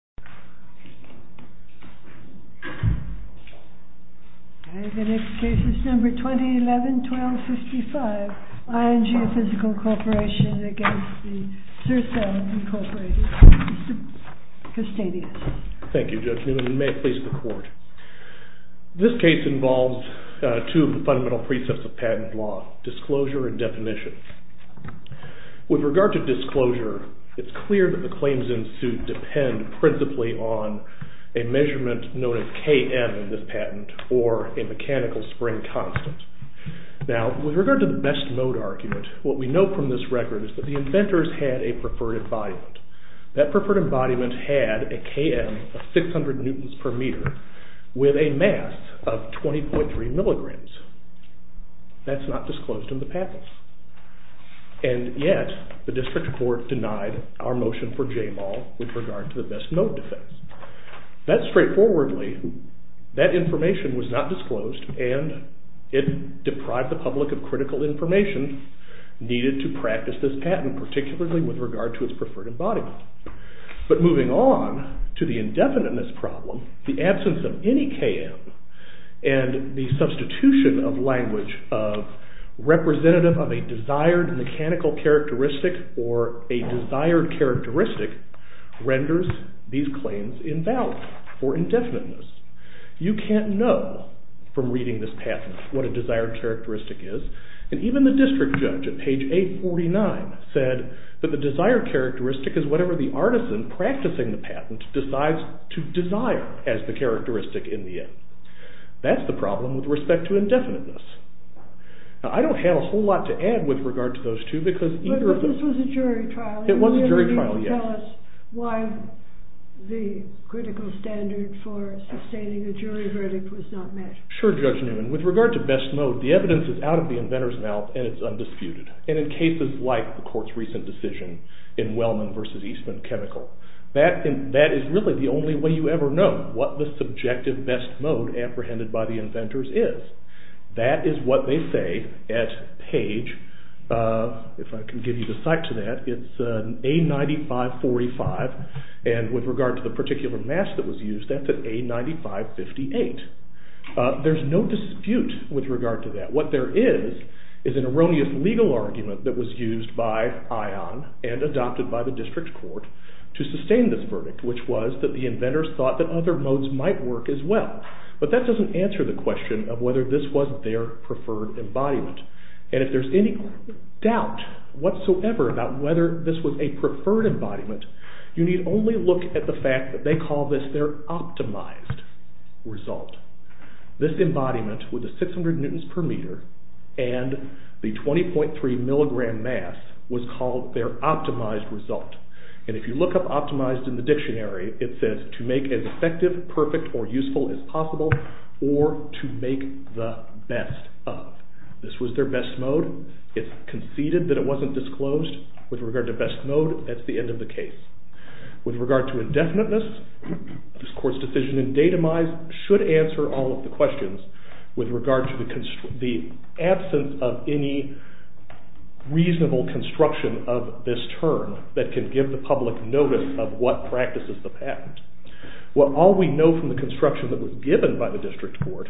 v. INCORPORATED, MR. CASTANIDAS. Thank you, Judge Newman, and may it please the Court. This case involves two of the fundamental precepts of patent law, disclosure and definition. With regard to disclosure, it's clear that the claims in suit depend principally on a measurement known as KM in this patent, or a mechanical spring constant. Now, with regard to the best mode argument, what we know from this record is that the inventors had a preferred embodiment. That preferred embodiment had a KM of 600 newtons per meter with a mass of 20.3 and yet the District Court denied our motion for JMAL with regard to the best mode defense. That's straightforwardly. That information was not disclosed and it deprived the public of critical information needed to practice this patent, particularly with regard to its preferred embodiment. But moving on to the indefiniteness problem, the absence of any KM and the substitution of language of representative of a desired mechanical characteristic or a desired characteristic renders these claims invalid for indefiniteness. You can't know from reading this patent what a desired characteristic is, and even the District Judge at page 849 said that the desired characteristic is whatever the artisan practicing the patent decides to desire as the indefiniteness. Now, I don't have a whole lot to add with regard to those two because either of them... But this was a jury trial. It was a jury trial, yes. Why the critical standard for sustaining a jury verdict was not met. Sure, Judge Newman. With regard to best mode, the evidence is out of the inventor's mouth and it's undisputed. And in cases like the Court's recent decision in Wellman v. Eastman Chemical, that is really the only way you ever know what the subjective best mode apprehended by the inventors is. That is what they say at page... If I can give you the site to that, it's A9545, and with regard to the particular mask that was used, that's at A9558. There's no dispute with regard to that. What there is, is an erroneous legal argument that was used by ION and adopted by the District Court to sustain this verdict, which was that the inventors thought that other modes might work as well. But that doesn't answer the question of whether this was their preferred embodiment. And if there's any doubt whatsoever about whether this was a preferred embodiment, you need only look at the fact that they call this their optimized result. This embodiment with the 600 newtons per meter and the 20.3 milligram mass was called their effective, perfect, or useful as possible, or to make the best of. This was their best mode. It's conceded that it wasn't disclosed. With regard to best mode, that's the end of the case. With regard to indefiniteness, this Court's decision in Datomize should answer all of the questions with regard to the absence of any reasonable construction of this term that can give the public notice of what practices the patent. Well, all we know from the construction that was given by the District Court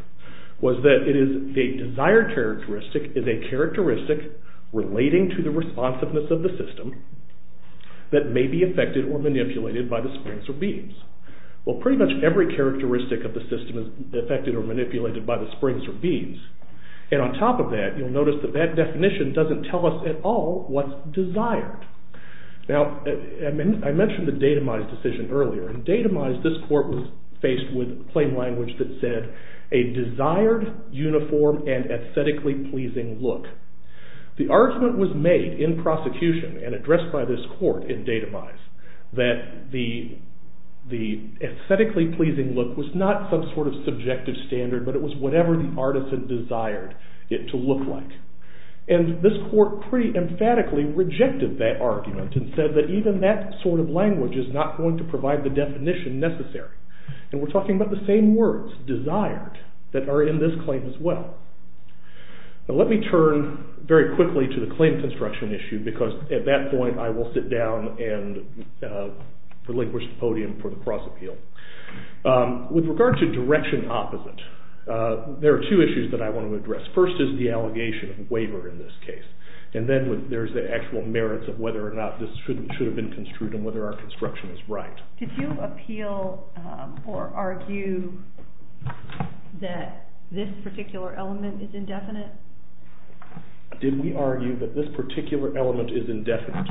was that the desired characteristic is a characteristic relating to the responsiveness of the system that may be affected or manipulated by the springs or beams. Well, pretty much every characteristic of the system is affected or manipulated by the springs or beams. And on top of that, you'll notice that that definition doesn't tell us at all what's desired. Now, I mentioned the Datomize decision earlier. In Datomize, this Court was faced with claim language that said, a desired, uniform, and aesthetically pleasing look. The argument was made in prosecution and addressed by this Court in Datomize that the aesthetically pleasing look was not some sort of subjective standard, but it was whatever the artisan desired it to look like. And this Court pretty emphatically rejected that argument and said that even that sort of language is not going to provide the definition necessary. And we're talking about the same words, desired, that are in this claim as well. Now, let me turn very quickly to the claim construction issue because at that point I will sit down and relinquish the podium for the cross-appeal. With regard to direction opposite, there are two issues that I want to address. First is the waiver in this case. And then there's the actual merits of whether or not this should have been construed and whether our construction is right. Did you appeal or argue that this particular element is indefinite? Did we argue that this particular element is indefinite?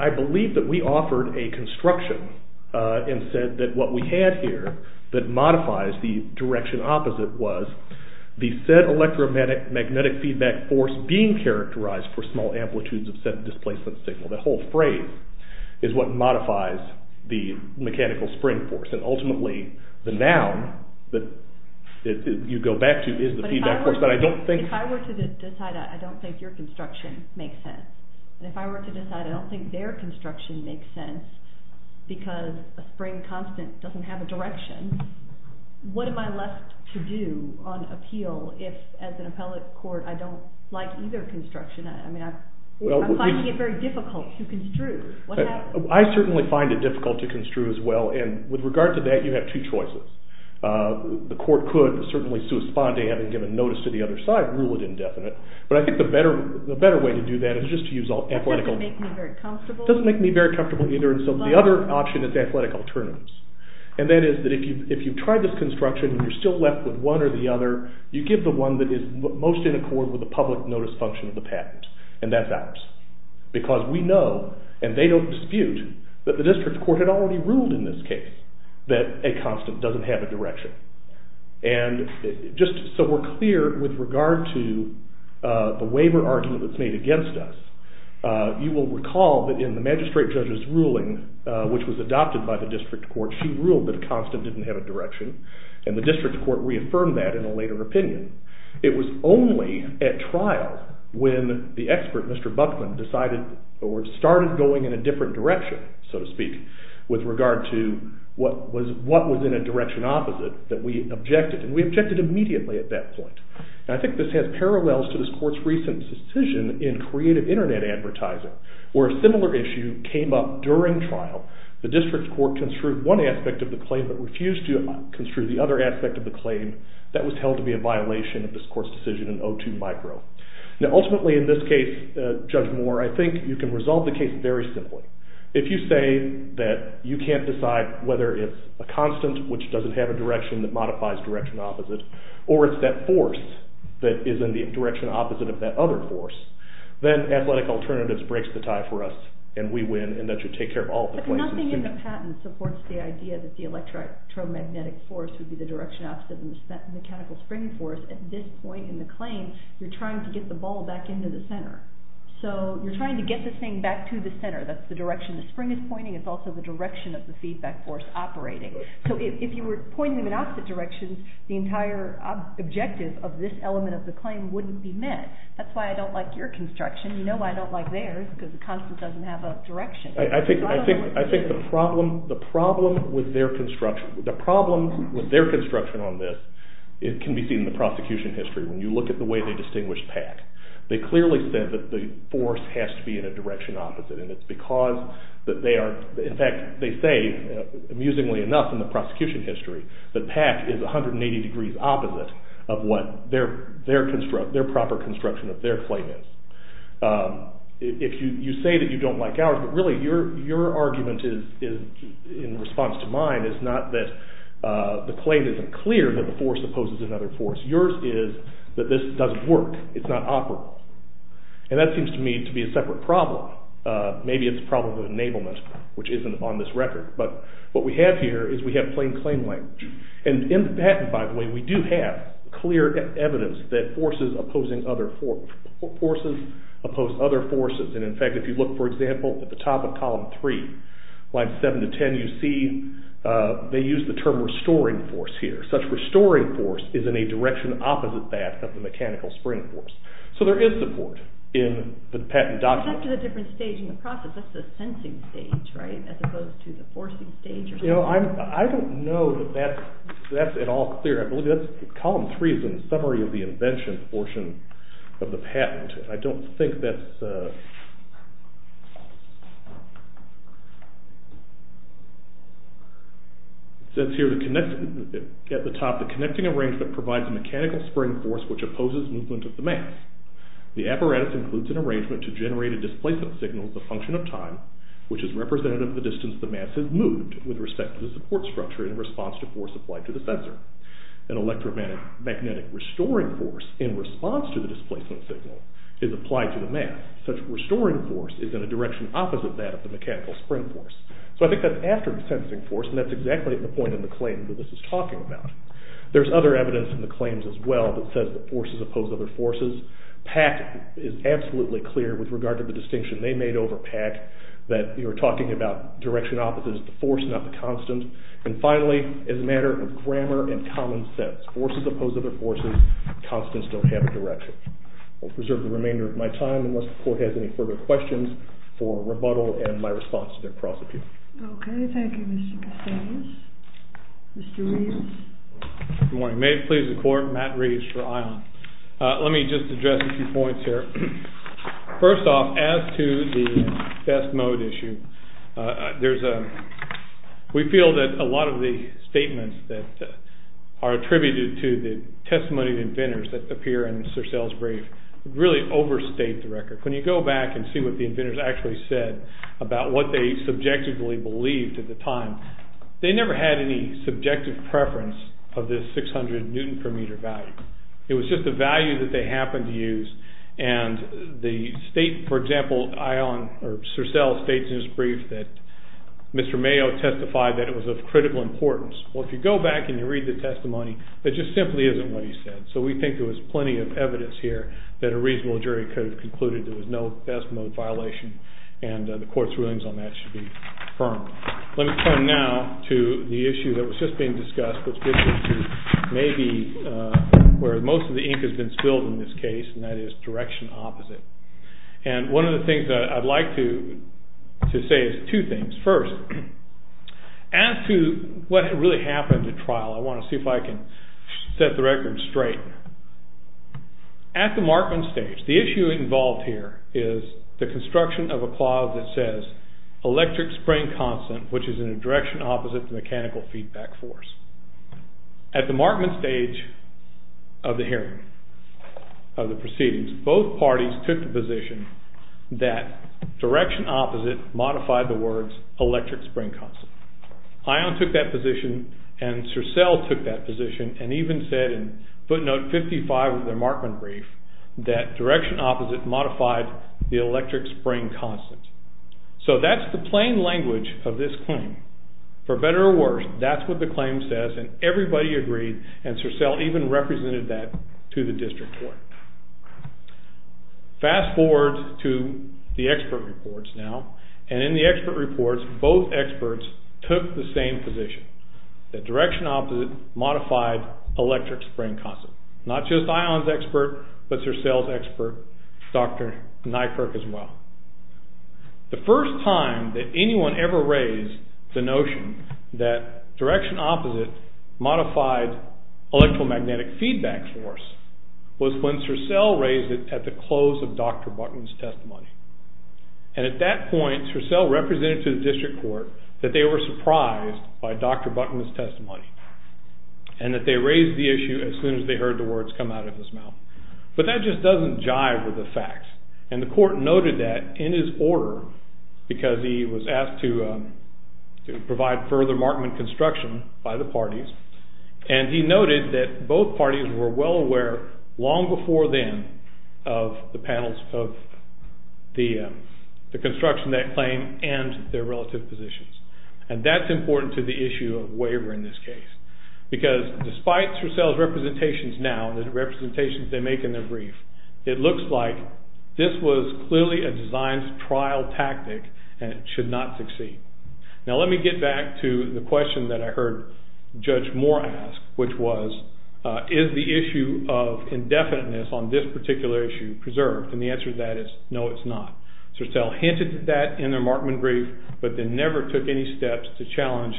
I believe that we offered a construction and said that what we had here that modifies the direction opposite was the said electromagnetic feedback force being characterized for small amplitudes of said displacement signal. The whole phrase is what modifies the mechanical spring force. And ultimately the noun that you go back to is the feedback force, but I don't think... But if I were to decide I don't think your construction makes sense, and if I were to decide I don't think their construction makes sense because a spring constant doesn't have direction, what am I left to do on appeal if as an appellate court I don't like either construction? I'm finding it very difficult to construe. What happens? I certainly find it difficult to construe as well, and with regard to that you have two choices. The court could certainly, having given notice to the other side, rule it indefinite, but I think the better way to do that is just to use all athletical... It doesn't make me very comfortable. Doesn't make me very comfortable either, and so the other option is athletic alternatives. And that is that if you've tried this construction and you're still left with one or the other, you give the one that is most in accord with the public notice function of the patent, and that's ours. Because we know, and they don't dispute, that the district court had already ruled in this case that a constant doesn't have a direction. And just so we're clear with regard to the waiver argument that's made against us, you will recall that in the magistrate judge's ruling, which was adopted by the district court, she ruled that a constant didn't have a direction, and the district court reaffirmed that in a later opinion. It was only at trial when the expert, Mr. Buckman, decided or started going in a different direction, so to speak, with regard to what was in a direction opposite that we objected, and we objected immediately at that point. And I think this has parallels to this court's recent decision in creative advertising, where a similar issue came up during trial. The district court construed one aspect of the claim but refused to construe the other aspect of the claim. That was held to be a violation of this court's decision in O2 micro. Now ultimately in this case, Judge Moore, I think you can resolve the case very simply. If you say that you can't decide whether it's a constant, which doesn't have a direction that modifies direction opposite, or it's that force that is in the direction opposite of that other force, then athletic alternatives breaks the tie for us, and we win, and that should take care of all the questions. But nothing in the patent supports the idea that the electromagnetic force would be the direction opposite of the mechanical spring force. At this point in the claim, you're trying to get the ball back into the center. So you're trying to get this thing back to the center. That's the direction the spring is pointing. It's also the direction of the feedback force operating. So if you were pointing in an opposite direction, the entire objective of this element of the claim wouldn't be met. That's why I don't like your construction. You know why I don't like theirs, because the constant doesn't have a direction. I think the problem with their construction on this can be seen in the prosecution history. When you look at the way they distinguished PAC, they clearly said that the force has to be in a direction opposite, and it's because that they are, in fact, they say amusingly enough in the of what their proper construction of their claim is. You say that you don't like ours, but really your argument in response to mine is not that the claim isn't clear that the force opposes another force. Yours is that this doesn't work. It's not operable. And that seems to me to be a separate problem. Maybe it's a problem of enablement, which isn't on this record. But what we have here is we have plain claim language. And in the patent, by the way, we do have clear evidence that forces oppose other forces. And in fact, if you look, for example, at the top of column three, line seven to ten, you see they use the term restoring force here. Such restoring force is in a direction opposite that of the mechanical spring force. So there is support in the patent document. But that's at a different stage in the process. That's the sensing stage, as opposed to the forcing stage. You know, I don't know that that's at all clear. I believe that's column three is in summary of the invention portion of the patent. I don't think that's... It says here at the top, the connecting arrangement provides a mechanical spring force which opposes movement of the mass. The apparatus includes an arrangement to generate a displacement signal as a function of time, which is representative of the distance the mass has moved with respect to the support structure in response to force applied to the sensor. An electromagnetic restoring force in response to the displacement signal is applied to the mass. Such restoring force is in a direction opposite that of the mechanical spring force. So I think that's after the sensing force, and that's exactly the point in the claim that this is talking about. There's other evidence in the claims as well that says that forces oppose other forces. PAC is absolutely clear with regard to the distinction they made over PAC, that you're talking about direction opposite is the force, not the constant. And finally, as a matter of grammar and common sense, forces oppose other forces, constants don't have a direction. I'll preserve the remainder of my time unless the court has any further questions for rebuttal and my response to their prosecution. Okay, thank you, Mr. Castellanos. Mr. Reeves. Good morning. May it please the court, Matt Reeves for ION. Let me just address a few points here. First off, as to the best mode issue, we feel that a lot of the statements that are attributed to the testimony of inventors that appear in Sir Sal's brief really overstate the record. When you go back and see what the inventors actually said about what they subjectively believed at the time, they never had any subjective preference of this 600 newton per meter value. It was just a value that they happened to use. And the state, for example, ION or Sir Sal states in his brief that Mr. Mayo testified that it was of critical importance. Well, if you go back and you read the testimony, it just simply isn't what he said. So we think there was plenty of evidence here that a reasonable jury could have concluded there was no best violation and the court's rulings on that should be firm. Let me turn now to the issue that was just being discussed, which may be where most of the ink has been spilled in this case, and that is direction opposite. And one of the things that I'd like to say is two things. First, as to what really happened at trial, I want to see if I can set the record straight. At the Markman stage, the issue involved here is the construction of a clause that says electric spring constant, which is in a direction opposite the mechanical feedback force. At the Markman stage of the hearing, of the proceedings, both parties took the position that direction opposite modified the words electric spring constant. ION took that position and Sir Sal took that position and even said in footnote 55 of the Markman brief that direction opposite modified the electric spring constant. So that's the plain language of this claim. For better or worse, that's what the claim says and everybody agreed and Sir Sal even represented that to the district court. Fast forward to the expert reports now, and in the expert reports, both experts took the same position, that direction opposite modified electric spring constant. Not just ION's expert, but Sir Sal's expert, Dr. Nykerk as well. The first time that anyone ever raised the notion that direction opposite modified electromagnetic feedback force was when Sir Sal raised it at the close of Dr. Buckman's testimony. And at that point, Sir Sal represented to the district court that they were surprised by Dr. Buckman's testimony and that they raised the issue as soon as they heard the words come out of his mouth. But that just doesn't jive with the facts and the court noted that in his order, because he was asked to provide further Markman construction by the parties, and he noted that both parties were well aware long before then of the panels of the construction that claim and their relative positions. And that's important to the issue of waiver in this case, because despite Sir Sal's representations now, the representations they make in their brief, it looks like this was clearly a design's trial tactic and it should not succeed. Now let me get back to the question that I heard Judge Moore ask, which was, is the issue of indefiniteness on this particular issue preserved? And the answer to that is, no, it's not. Sir Sal hinted at that in their Markman brief, but then never took any steps to challenge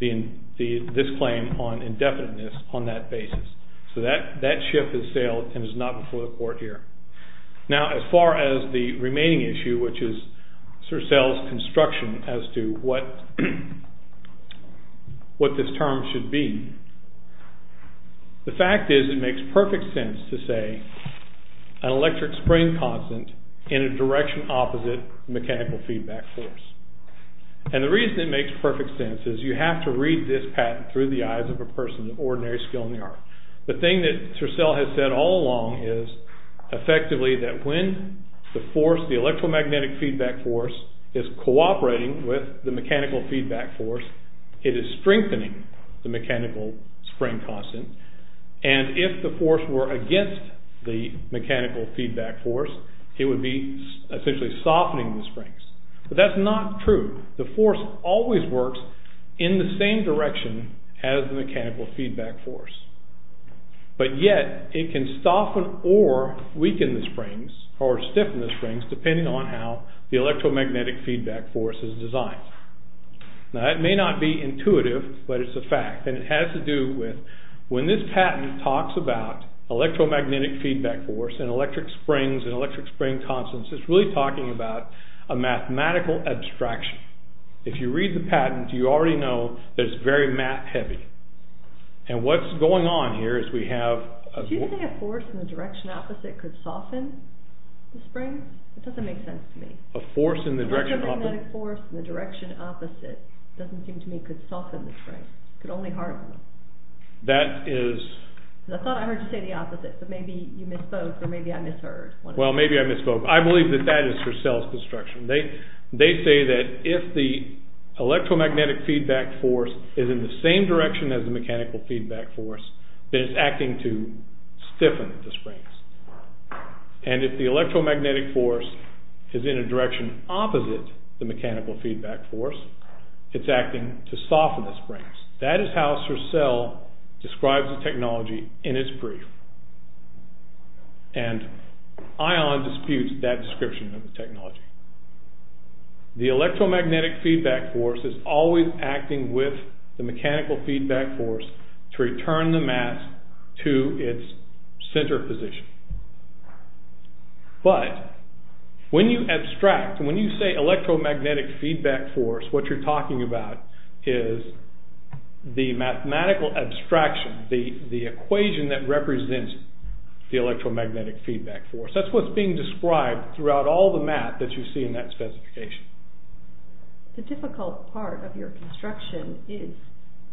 this claim on indefiniteness on that basis. So that shift has sailed and is not before the court here. Now as far as the remaining issue, which is Sir Sal's construction as to what this term should be, the fact is it makes perfect sense to say an electric spring constant in a direction opposite mechanical feedback force. And the reason it makes perfect sense is you have to read this patent through the eyes of a person of ordinary skill in the art. The thing that Sir Sal has said all along is effectively that when the force, the electromagnetic feedback force, is cooperating with the mechanical feedback force, it is strengthening the mechanical spring constant. And if the force were against the mechanical feedback force, it would be essentially softening the springs. But that's not true. The force always works in the same direction as the mechanical feedback force. But yet it can soften or weaken the springs or stiffen the springs depending on how the electromagnetic feedback force is designed. Now that may not be intuitive, but it's a fact. And it has to do with when this patent talks about electromagnetic feedback force and electric springs and electric spring constants, it's really talking about a mathematical abstraction. If you read the patent, you already know that it's very math heavy. And what's going on here is we have... Do you think a force in the direction opposite could soften the spring? It doesn't make sense to me. A force in the direction opposite? Electromagnetic force in the direction opposite doesn't seem to me could soften the spring. It could only harden them. That is... I thought I heard you say the opposite, but maybe you misspoke or maybe I misheard. Well, maybe I misspoke. I believe that that is for Sal's construction. They say that if the electromagnetic feedback force is in the same direction as the mechanical feedback force, then it's acting to stiffen the springs. And if the electromagnetic force is in a direction opposite the mechanical feedback force, it's acting to soften the springs. That is how Sir Sal describes the technology in his brief. And Ion disputes that description of the technology. The electromagnetic feedback force is always acting with the mechanical feedback force to return the mass to its center position. But when you abstract, when you say electromagnetic feedback force, what you're talking about is the mathematical abstraction, the equation that represents the electromagnetic feedback force. That's what's being described throughout all the math that you see in that specification. The difficult part of your construction is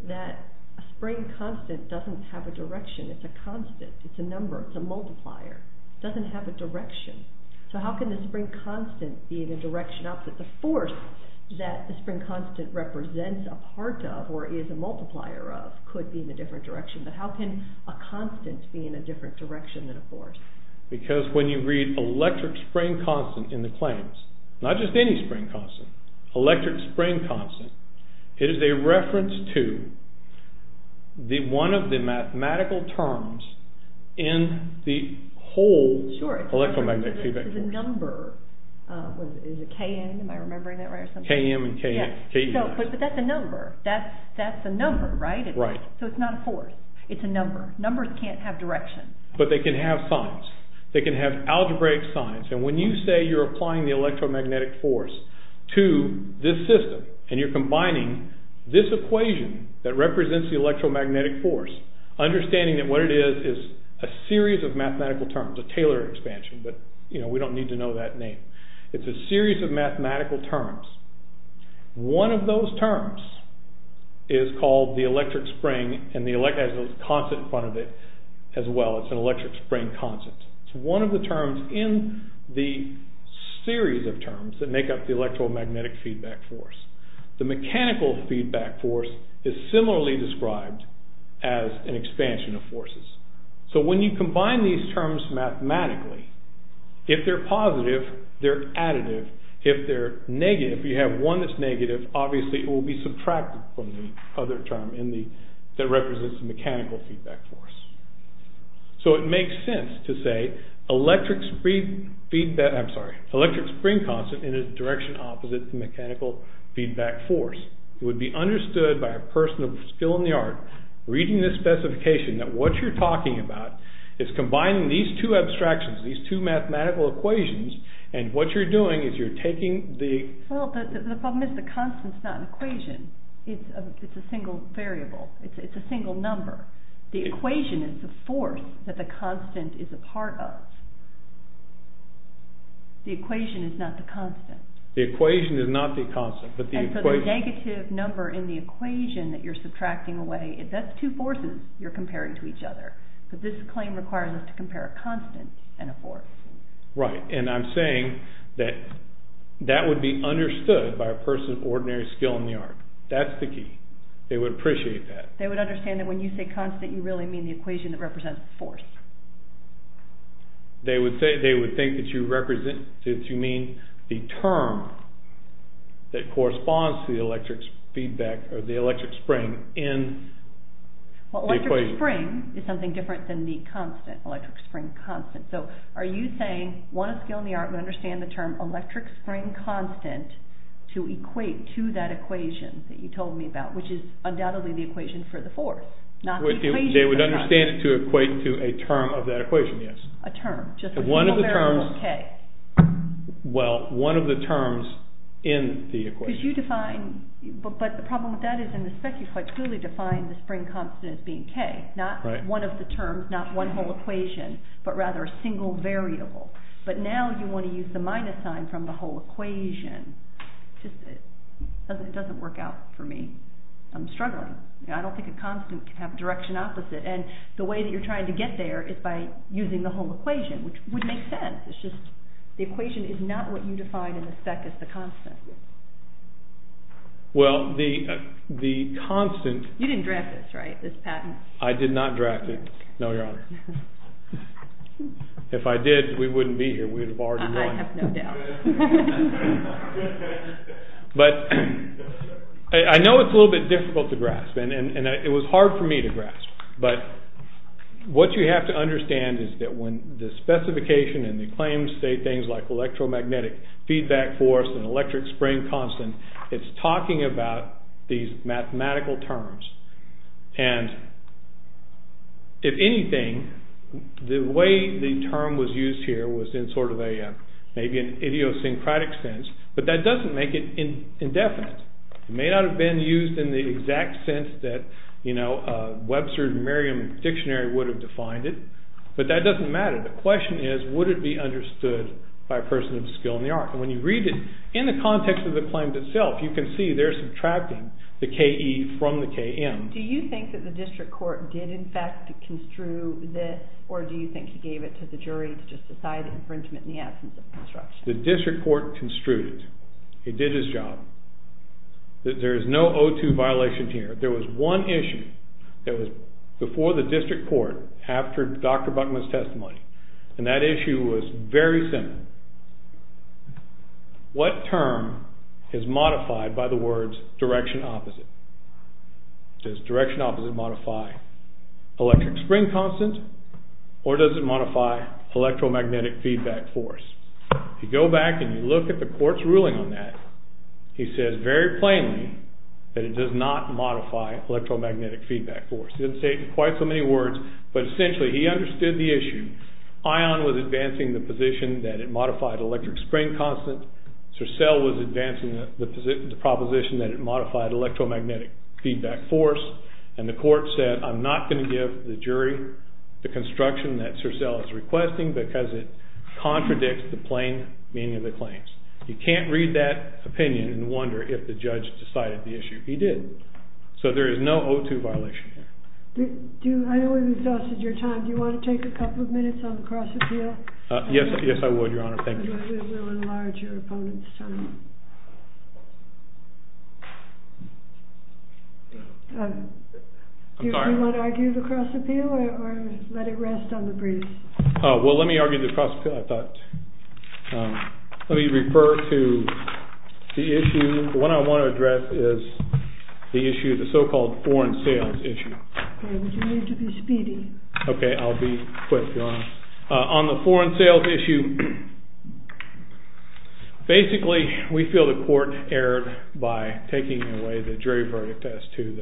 that a spring constant doesn't have a direction. It's a constant, it's a number, it's a multiplier. It doesn't have a direction. So how can the spring constant be in a direction opposite the force that the spring constant represents a part of or is a multiplier of, could be in a different direction. But how can a constant be in a different direction than a force? Because when you read electric spring constant in the claims, not just any spring constant, electric spring constant, it is a reference to one of the mathematical terms in the whole electromagnetic feedback force. Sure, it's a number. Is it Km, am I remembering that right? Km and Ks. But that's a number. That's a number, right? So it's not a force. It's a number. Numbers can't have direction. But they can have signs. They can have algebraic signs. And when you say you're applying the electromagnetic force to this system, and you're combining this equation that represents the electromagnetic force, understanding that what it is, is a series of mathematical terms, a Taylor expansion, but you know, we don't need to know that name. It's a series of mathematical terms. One of those terms is called the electric spring and the electric constant in front of it as well. It's an electric spring constant. It's one of the terms in the series of terms that make up the electromagnetic feedback force. The mechanical feedback force is similarly described as an expansion of forces. So when you combine these terms mathematically, if they're positive, they're additive. If they're negative, you have one that's negative, obviously it will be subtracted from the other term that represents the mechanical feedback force. So it makes sense to say electric spring feedback, I'm sorry, electric spring constant in a direction opposite the mechanical feedback force. It would be understood by a person of skill in the art, reading this specification, that what you're talking about is combining these two abstractions, these two mathematical equations, and what you're doing is you're taking the... Well, the problem is the constant's not an equation. It's a single variable. It's a single number. The equation is the force that the constant is a part of. The equation is not the constant. The equation is not the constant. And so the negative number in the equation that you're subtracting away, that's two forces you're comparing to each other. But this claim requires us to compare a constant and a force. Right. And I'm saying that that would be understood by a person of ordinary skill in the art. That's the key. They would appreciate that. They would understand that when you say constant, you really mean the equation that represents force. They would think that you mean the term that corresponds to the electric feedback or the electric spring in the equation. Well, electric spring is something different than the constant, electric spring constant. So are you saying one of skill in the art would understand the term electric spring constant to equate to that equation that you told me about, which is not the equation. They would understand it to equate to a term of that equation, yes. A term, just a single variable k. Well, one of the terms in the equation. But the problem with that is in the spec you quite clearly define the spring constant as being k, not one of the terms, not one whole equation, but rather a single variable. But now you want to use the minus sign from the whole equation. It just doesn't work out for me. I'm struggling. I don't think constant can have direction opposite. And the way that you're trying to get there is by using the whole equation, which would make sense. It's just the equation is not what you defined in the spec as the constant. Well, the constant... You didn't draft this, right, this patent? I did not draft it. No, Your Honor. If I did, we wouldn't be here. We'd have already run. I have no doubt. But I know it's a little bit difficult to grasp, and it was hard for me to grasp. But what you have to understand is that when the specification and the claims say things like electromagnetic feedback force and electric spring constant, it's talking about these maybe in idiosyncratic sense, but that doesn't make it indefinite. It may not have been used in the exact sense that Webster's Merriam Dictionary would have defined it, but that doesn't matter. The question is, would it be understood by a person of skill in the art? And when you read it in the context of the claims itself, you can see they're subtracting the k-e from the k-m. Do you think that the district court did in fact construe this, or do you think he gave it to the The district court construed it. He did his job. There is no O2 violation here. There was one issue that was before the district court after Dr. Buckman's testimony, and that issue was very similar. What term is modified by the words direction opposite? Does direction opposite modify electric spring constant, or does it modify electromagnetic feedback force? You go back and you look at the court's ruling on that. He says very plainly that it does not modify electromagnetic feedback force. He didn't say it in quite so many words, but essentially he understood the issue. Ion was advancing the position that it modified electric spring constant. So cell was advancing the proposition that it modified electromagnetic feedback force, and the court said I'm not going to give the jury the construction that CERCEL is requesting because it contradicts the plain meaning of the claims. You can't read that opinion and wonder if the judge decided the issue. He did. So there is no O2 violation here. I know we've exhausted your time. Do you want to take a couple of minutes on the cross-appeal? Yes, yes I would, I'm sorry. Do you want to argue the cross-appeal or let it rest on the briefs? Oh, well let me argue the cross-appeal, I thought. Let me refer to the issue. What I want to address is the issue, the so-called foreign sales issue. Okay, would you need to be speedy? Okay, I'll be quick. On the foreign sales issue, basically we feel the court erred by taking away the jury verdict as to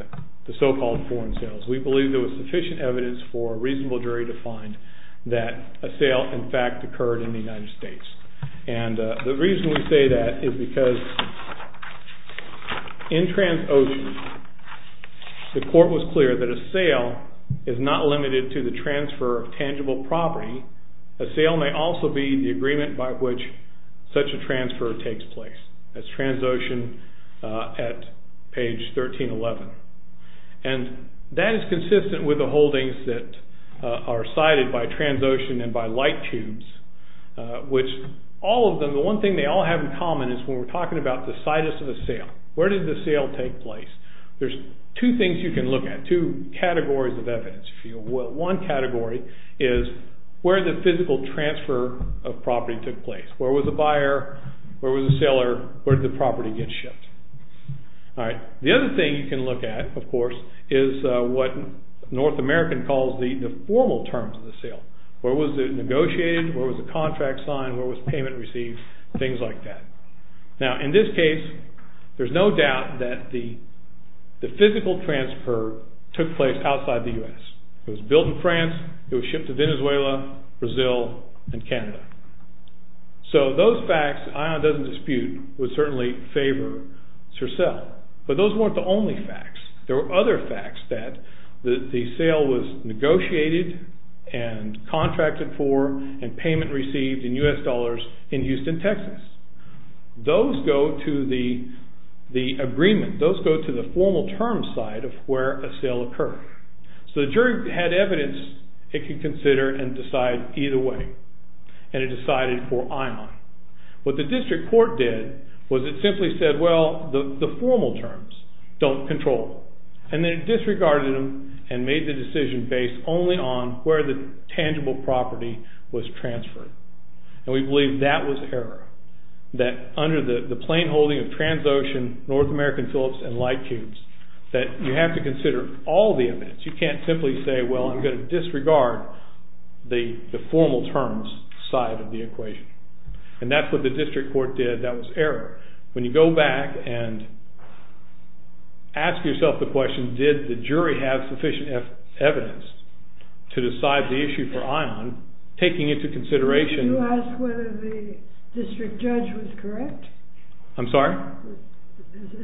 the so-called foreign sales. We believe there was sufficient evidence for a reasonable jury to find that a sale, in fact, occurred in the United States. And the reason we say that is because in Transocean, the court was clear that a sale is not limited to the transfer of tangible property. A sale may also be the agreement by which such a transfer takes place. That's Transocean at page 1311. And that is consistent with the holdings that are cited by Transocean and by Light Tubes, which all of them, the one thing they all have in common is when we're talking about the situs of the sale. Where did the sale take place? There's two things you can look at, two categories of evidence, if you will. One category is where the physical transfer of property took place. Where was the buyer? Where was the seller? Where did the property get shipped? All right, the other thing you can look at, of course, is what North American calls the formal terms of the sale. Where was it negotiated? Where was the contract signed? Where was payment received? Things like that. Now, in this case, there's no doubt that the sale took place outside the U.S. It was built in France, it was shipped to Venezuela, Brazil, and Canada. So those facts, ION doesn't dispute, would certainly favor CERCEL. But those weren't the only facts. There were other facts that the sale was negotiated and contracted for and payment received in U.S. dollars in Houston, Texas. Those go to the agreement, those go to the agreement. So the jury had evidence it could consider and decide either way. And it decided for ION. What the district court did was it simply said, well, the formal terms don't control. And then it disregarded them and made the decision based only on where the tangible property was transferred. And we believe that was error, that under the plain holding of Transocean, North American Phillips, and Lightcubes, that you have to consider all the evidence. You can't simply say, well, I'm going to disregard the formal terms side of the equation. And that's what the district court did, that was error. When you go back and ask yourself the question, did the jury have sufficient evidence to decide the issue for ION, taking into consideration... Is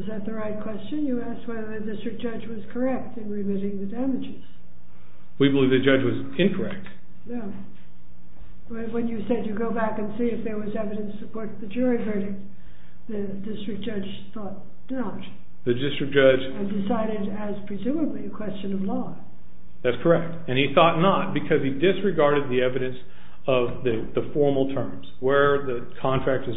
that the right question? You asked whether the district judge was correct in remitting the damages. We believe the judge was incorrect. No. When you said you go back and see if there was evidence to support the jury verdict, the district judge thought not. The district judge... And decided as presumably a question of law. That's correct. And he thought not because he disregarded the evidence of the formal terms, where the contract was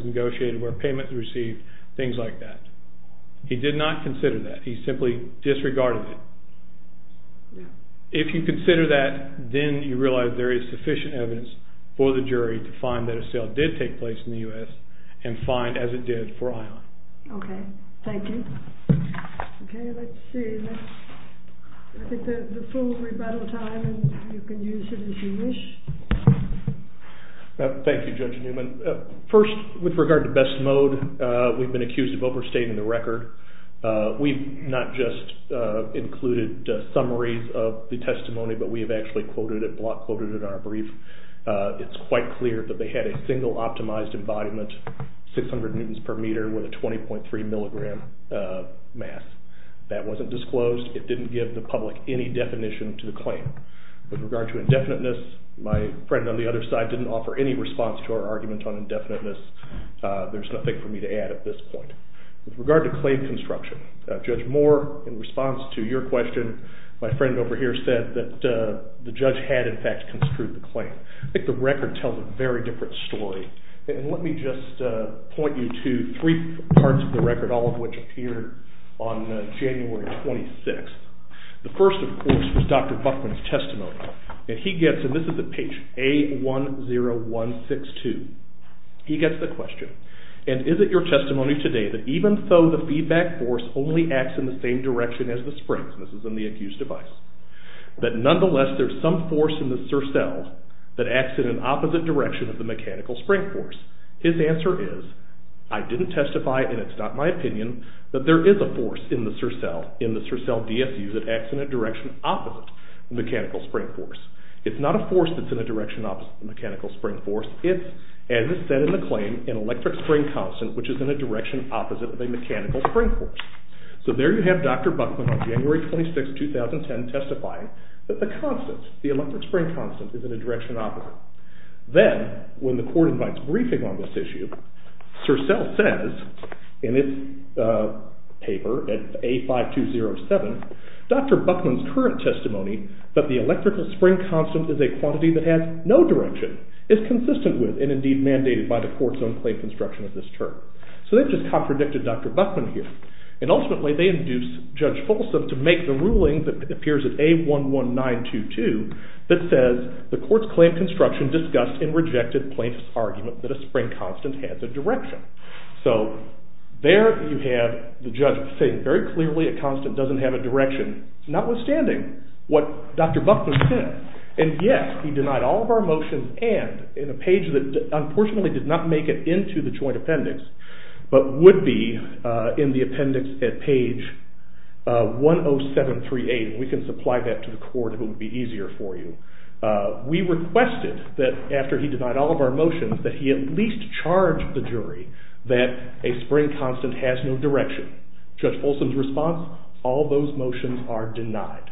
He did not consider that. He simply disregarded it. If you consider that, then you realize there is sufficient evidence for the jury to find that a sale did take place in the U.S. and find, as it did, for ION. Okay. Thank you. Okay, let's see. I think the full rebuttal time, and you can use it as you wish. Thank you, Judge Newman. First, with regard to best mode, we've been accused of overstating the record. We've not just included summaries of the testimony, but we have actually quoted it, block quoted it in our brief. It's quite clear that they had a single optimized embodiment, 600 newtons per meter, with a 20.3 milligram mass. That wasn't disclosed. It didn't give the public any definition to the claim. With regard to indefiniteness, my friend on the other side didn't offer any response to our argument on indefiniteness. There's nothing for me to add at this point. With regard to claim construction, Judge Moore, in response to your question, my friend over here said that the judge had, in fact, construed the claim. I think the record tells a very different story. And let me just point you to three parts of the record, all of which appeared on January 26th. The first, of course, was Dr. Buckman's testimony. And he gets, and this is at page A10162, he gets the question, and is it your testimony today that even though the feedback force only acts in the same direction as the springs, and this is in the accused's device, that nonetheless there's some force in the surcell that acts in an opposite direction of the mechanical spring force? His answer is, I didn't testify and it's not my opinion, that there is a force in the surcell, in the surcell DSU, that acts in a direction opposite the mechanical spring force. It's not a force that's in a direction opposite the mechanical spring force. It's, as is said in the claim, an electric spring constant which is in a direction opposite of a mechanical spring force. So there you have Dr. Buckman on January 26th, 2010, testifying that the constant, the electric spring constant, is in a direction opposite. Then, when the court invites briefing on this issue, surcell says in its paper at A5207, Dr. Buckman's current testimony that the electrical spring constant is a quantity that has no direction, is consistent with and indeed mandated by the court's own claim construction of this term. So they've just contradicted Dr. Buckman here. And ultimately they induce Judge Folsom to make the ruling that appears at A11922 that says the court's claim construction discussed and rejected plaintiff's argument that a spring constant has a direction. So there you have the judge saying very clearly a constant doesn't have a direction, notwithstanding what Dr. Buckman said. And yes, he denied all of our motions and in a page that unfortunately did not make it into the joint appendix, but would be in the appendix at page 10738, and we can supply that to the court if it would be easier for you. We requested that after he denied all of our motions that he at least charge the jury that a spring constant has no direction. Judge Folsom's response, all those motions are denied.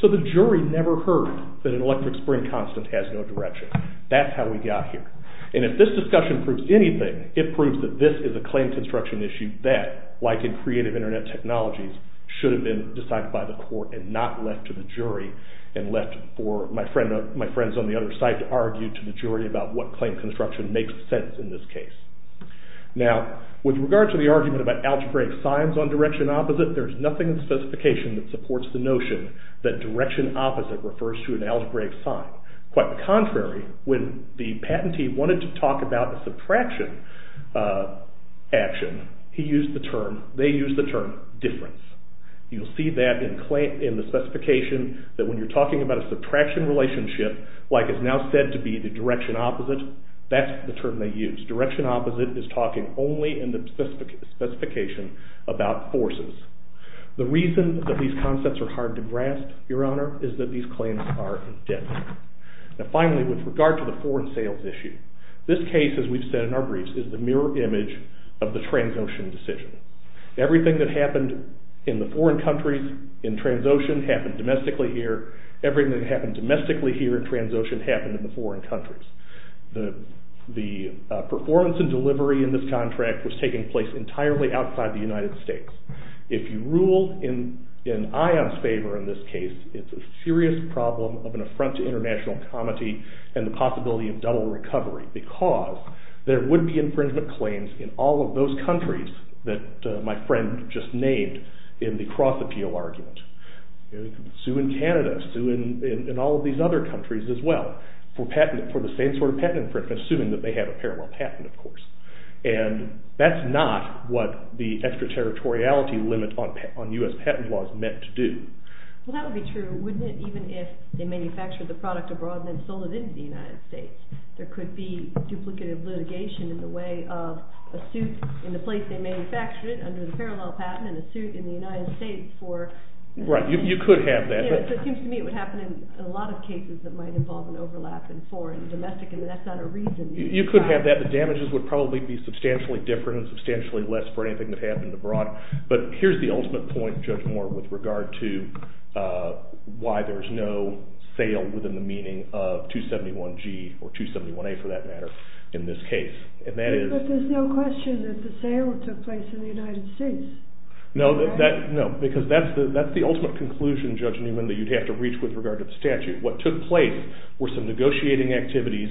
So the jury never heard that an electric spring constant has no direction. That's how we got here. And if this discussion proves anything, it proves that this is a claim construction issue that, like in creative internet technologies, should have been decided by the court and not left to the jury, and left for my friends on the other side to argue to the jury about what claim construction makes sense in this case. Now, with regard to the argument about algebraic signs on direction opposite, there's nothing in the specification that supports the notion that direction opposite refers to an algebraic sign. Quite the contrary, when the patentee wanted to talk about the subtraction action, he used the term, they used the term, difference. You'll see that in the specification that when you're talking about a subtraction relationship, like it's now said to be the direction opposite, that's the term they use. Direction opposite is talking only in the specification about forces. The reason that these concepts are hard to grasp, your honor, is that these claims are indebted. Now finally, with regard to the foreign sales issue, this case, as we've said in our briefs, is the mirror image of the Transocean decision. Everything that happened in the foreign countries in Transocean happened domestically here. Everything that happened domestically here in Transocean happened in the foreign countries. The performance and delivery in this contract was taking place entirely outside the United States. If you rule in ION's favor in this case, it's a serious problem of an affront to international comity and the possibility of double recovery because there would be infringement claims in all of those countries that my friend just named in the cross-appeal argument. Sue in Canada, sue in all of these other countries as well for the same sort of patent infringement, assuming that they have a parallel patent, of course. And that's not what the extraterritoriality limit on U.S. patent laws meant to do. Well, that would be true, wouldn't it, even if they manufactured the product abroad and then sold it into the United States. There could be duplicative litigation in the way of a suit in the place they manufactured it under the parallel patent and a suit in the United States for... Right, you could have that. It seems to me it would happen in a lot of cases that might involve an overlap in foreign and domestic and that's not a reason. You could have that. The damages would probably be substantially different and substantially less for anything that happened abroad. But here's the ultimate point, Judge Moore, with regard to why there's no sale within the meaning of 271G or 271A for that matter in this case. But there's no question that the sale took place in the United States. No, because that's the ultimate conclusion, Judge Newman, that you'd have to reach with regard to the statute. What took place were some negotiating activities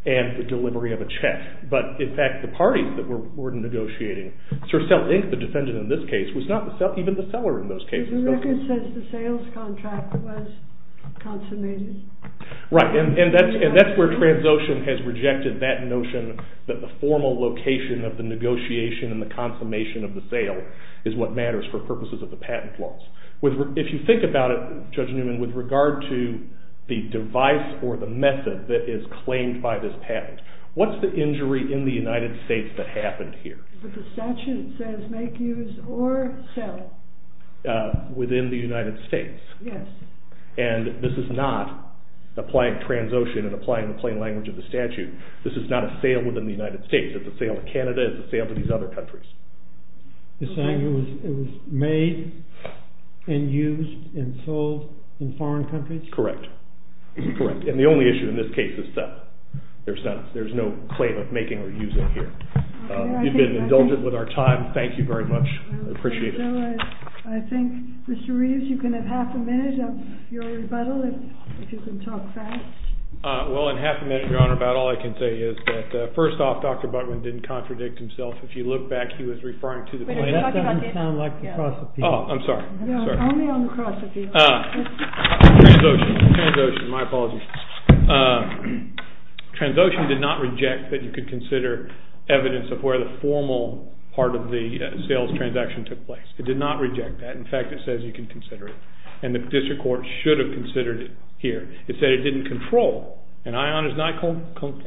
and the delivery of a check. But, in fact, the parties that were negotiating, Sir Cell Inc., the defendant in this case, was not even the seller in those cases. The record says the sales contract was consummated. Right, and that's where Transocean has rejected that notion that the formal location of the negotiation and the consummation of the sale is what matters for purposes of the patent laws. If you think about it, Judge Newman, with regard to the device or the method that is claimed by this patent, what's the injury in the United States that happened here? The statute says make use or sell. Within the United States? Yes. And this is not applying Transocean and applying the plain language of the statute. This is not a sale within the United States. It's a sale to Canada. It's a sale to these other countries. You're saying it was made and used and sold in foreign countries? Correct. Correct. And the only issue in this case is sell. There's no claim of making or using here. You've been indulgent with our time. Thank you very much. I appreciate it. I think, Mr. Reeves, you can have half a minute of your rebuttal if you can talk fast. Well, in half a minute, Your Honor, about all I can say is that first off, Dr. Buckman didn't contradict himself. If you look back, he was referring to the plain language. That doesn't sound like the cross appeal. Oh, I'm sorry. Only on the cross appeal. Transocean. Transocean. My apologies. Transocean did not reject that you could consider evidence of where the formal part of the sales transaction took place. It did not reject that. In fact, it says you can consider it. And the district court should have considered it here. It said it didn't control. And ION is not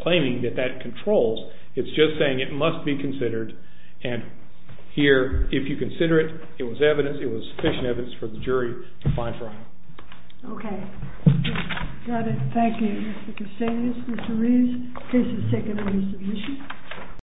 claiming that that controls. It's just saying it must be considered. And here, if you consider it, it was evidence. It was sufficient evidence for the jury to find fraud. Okay. Got it. Thank you, Mr. Casades, Mr. Reeves. Case is taken on submission.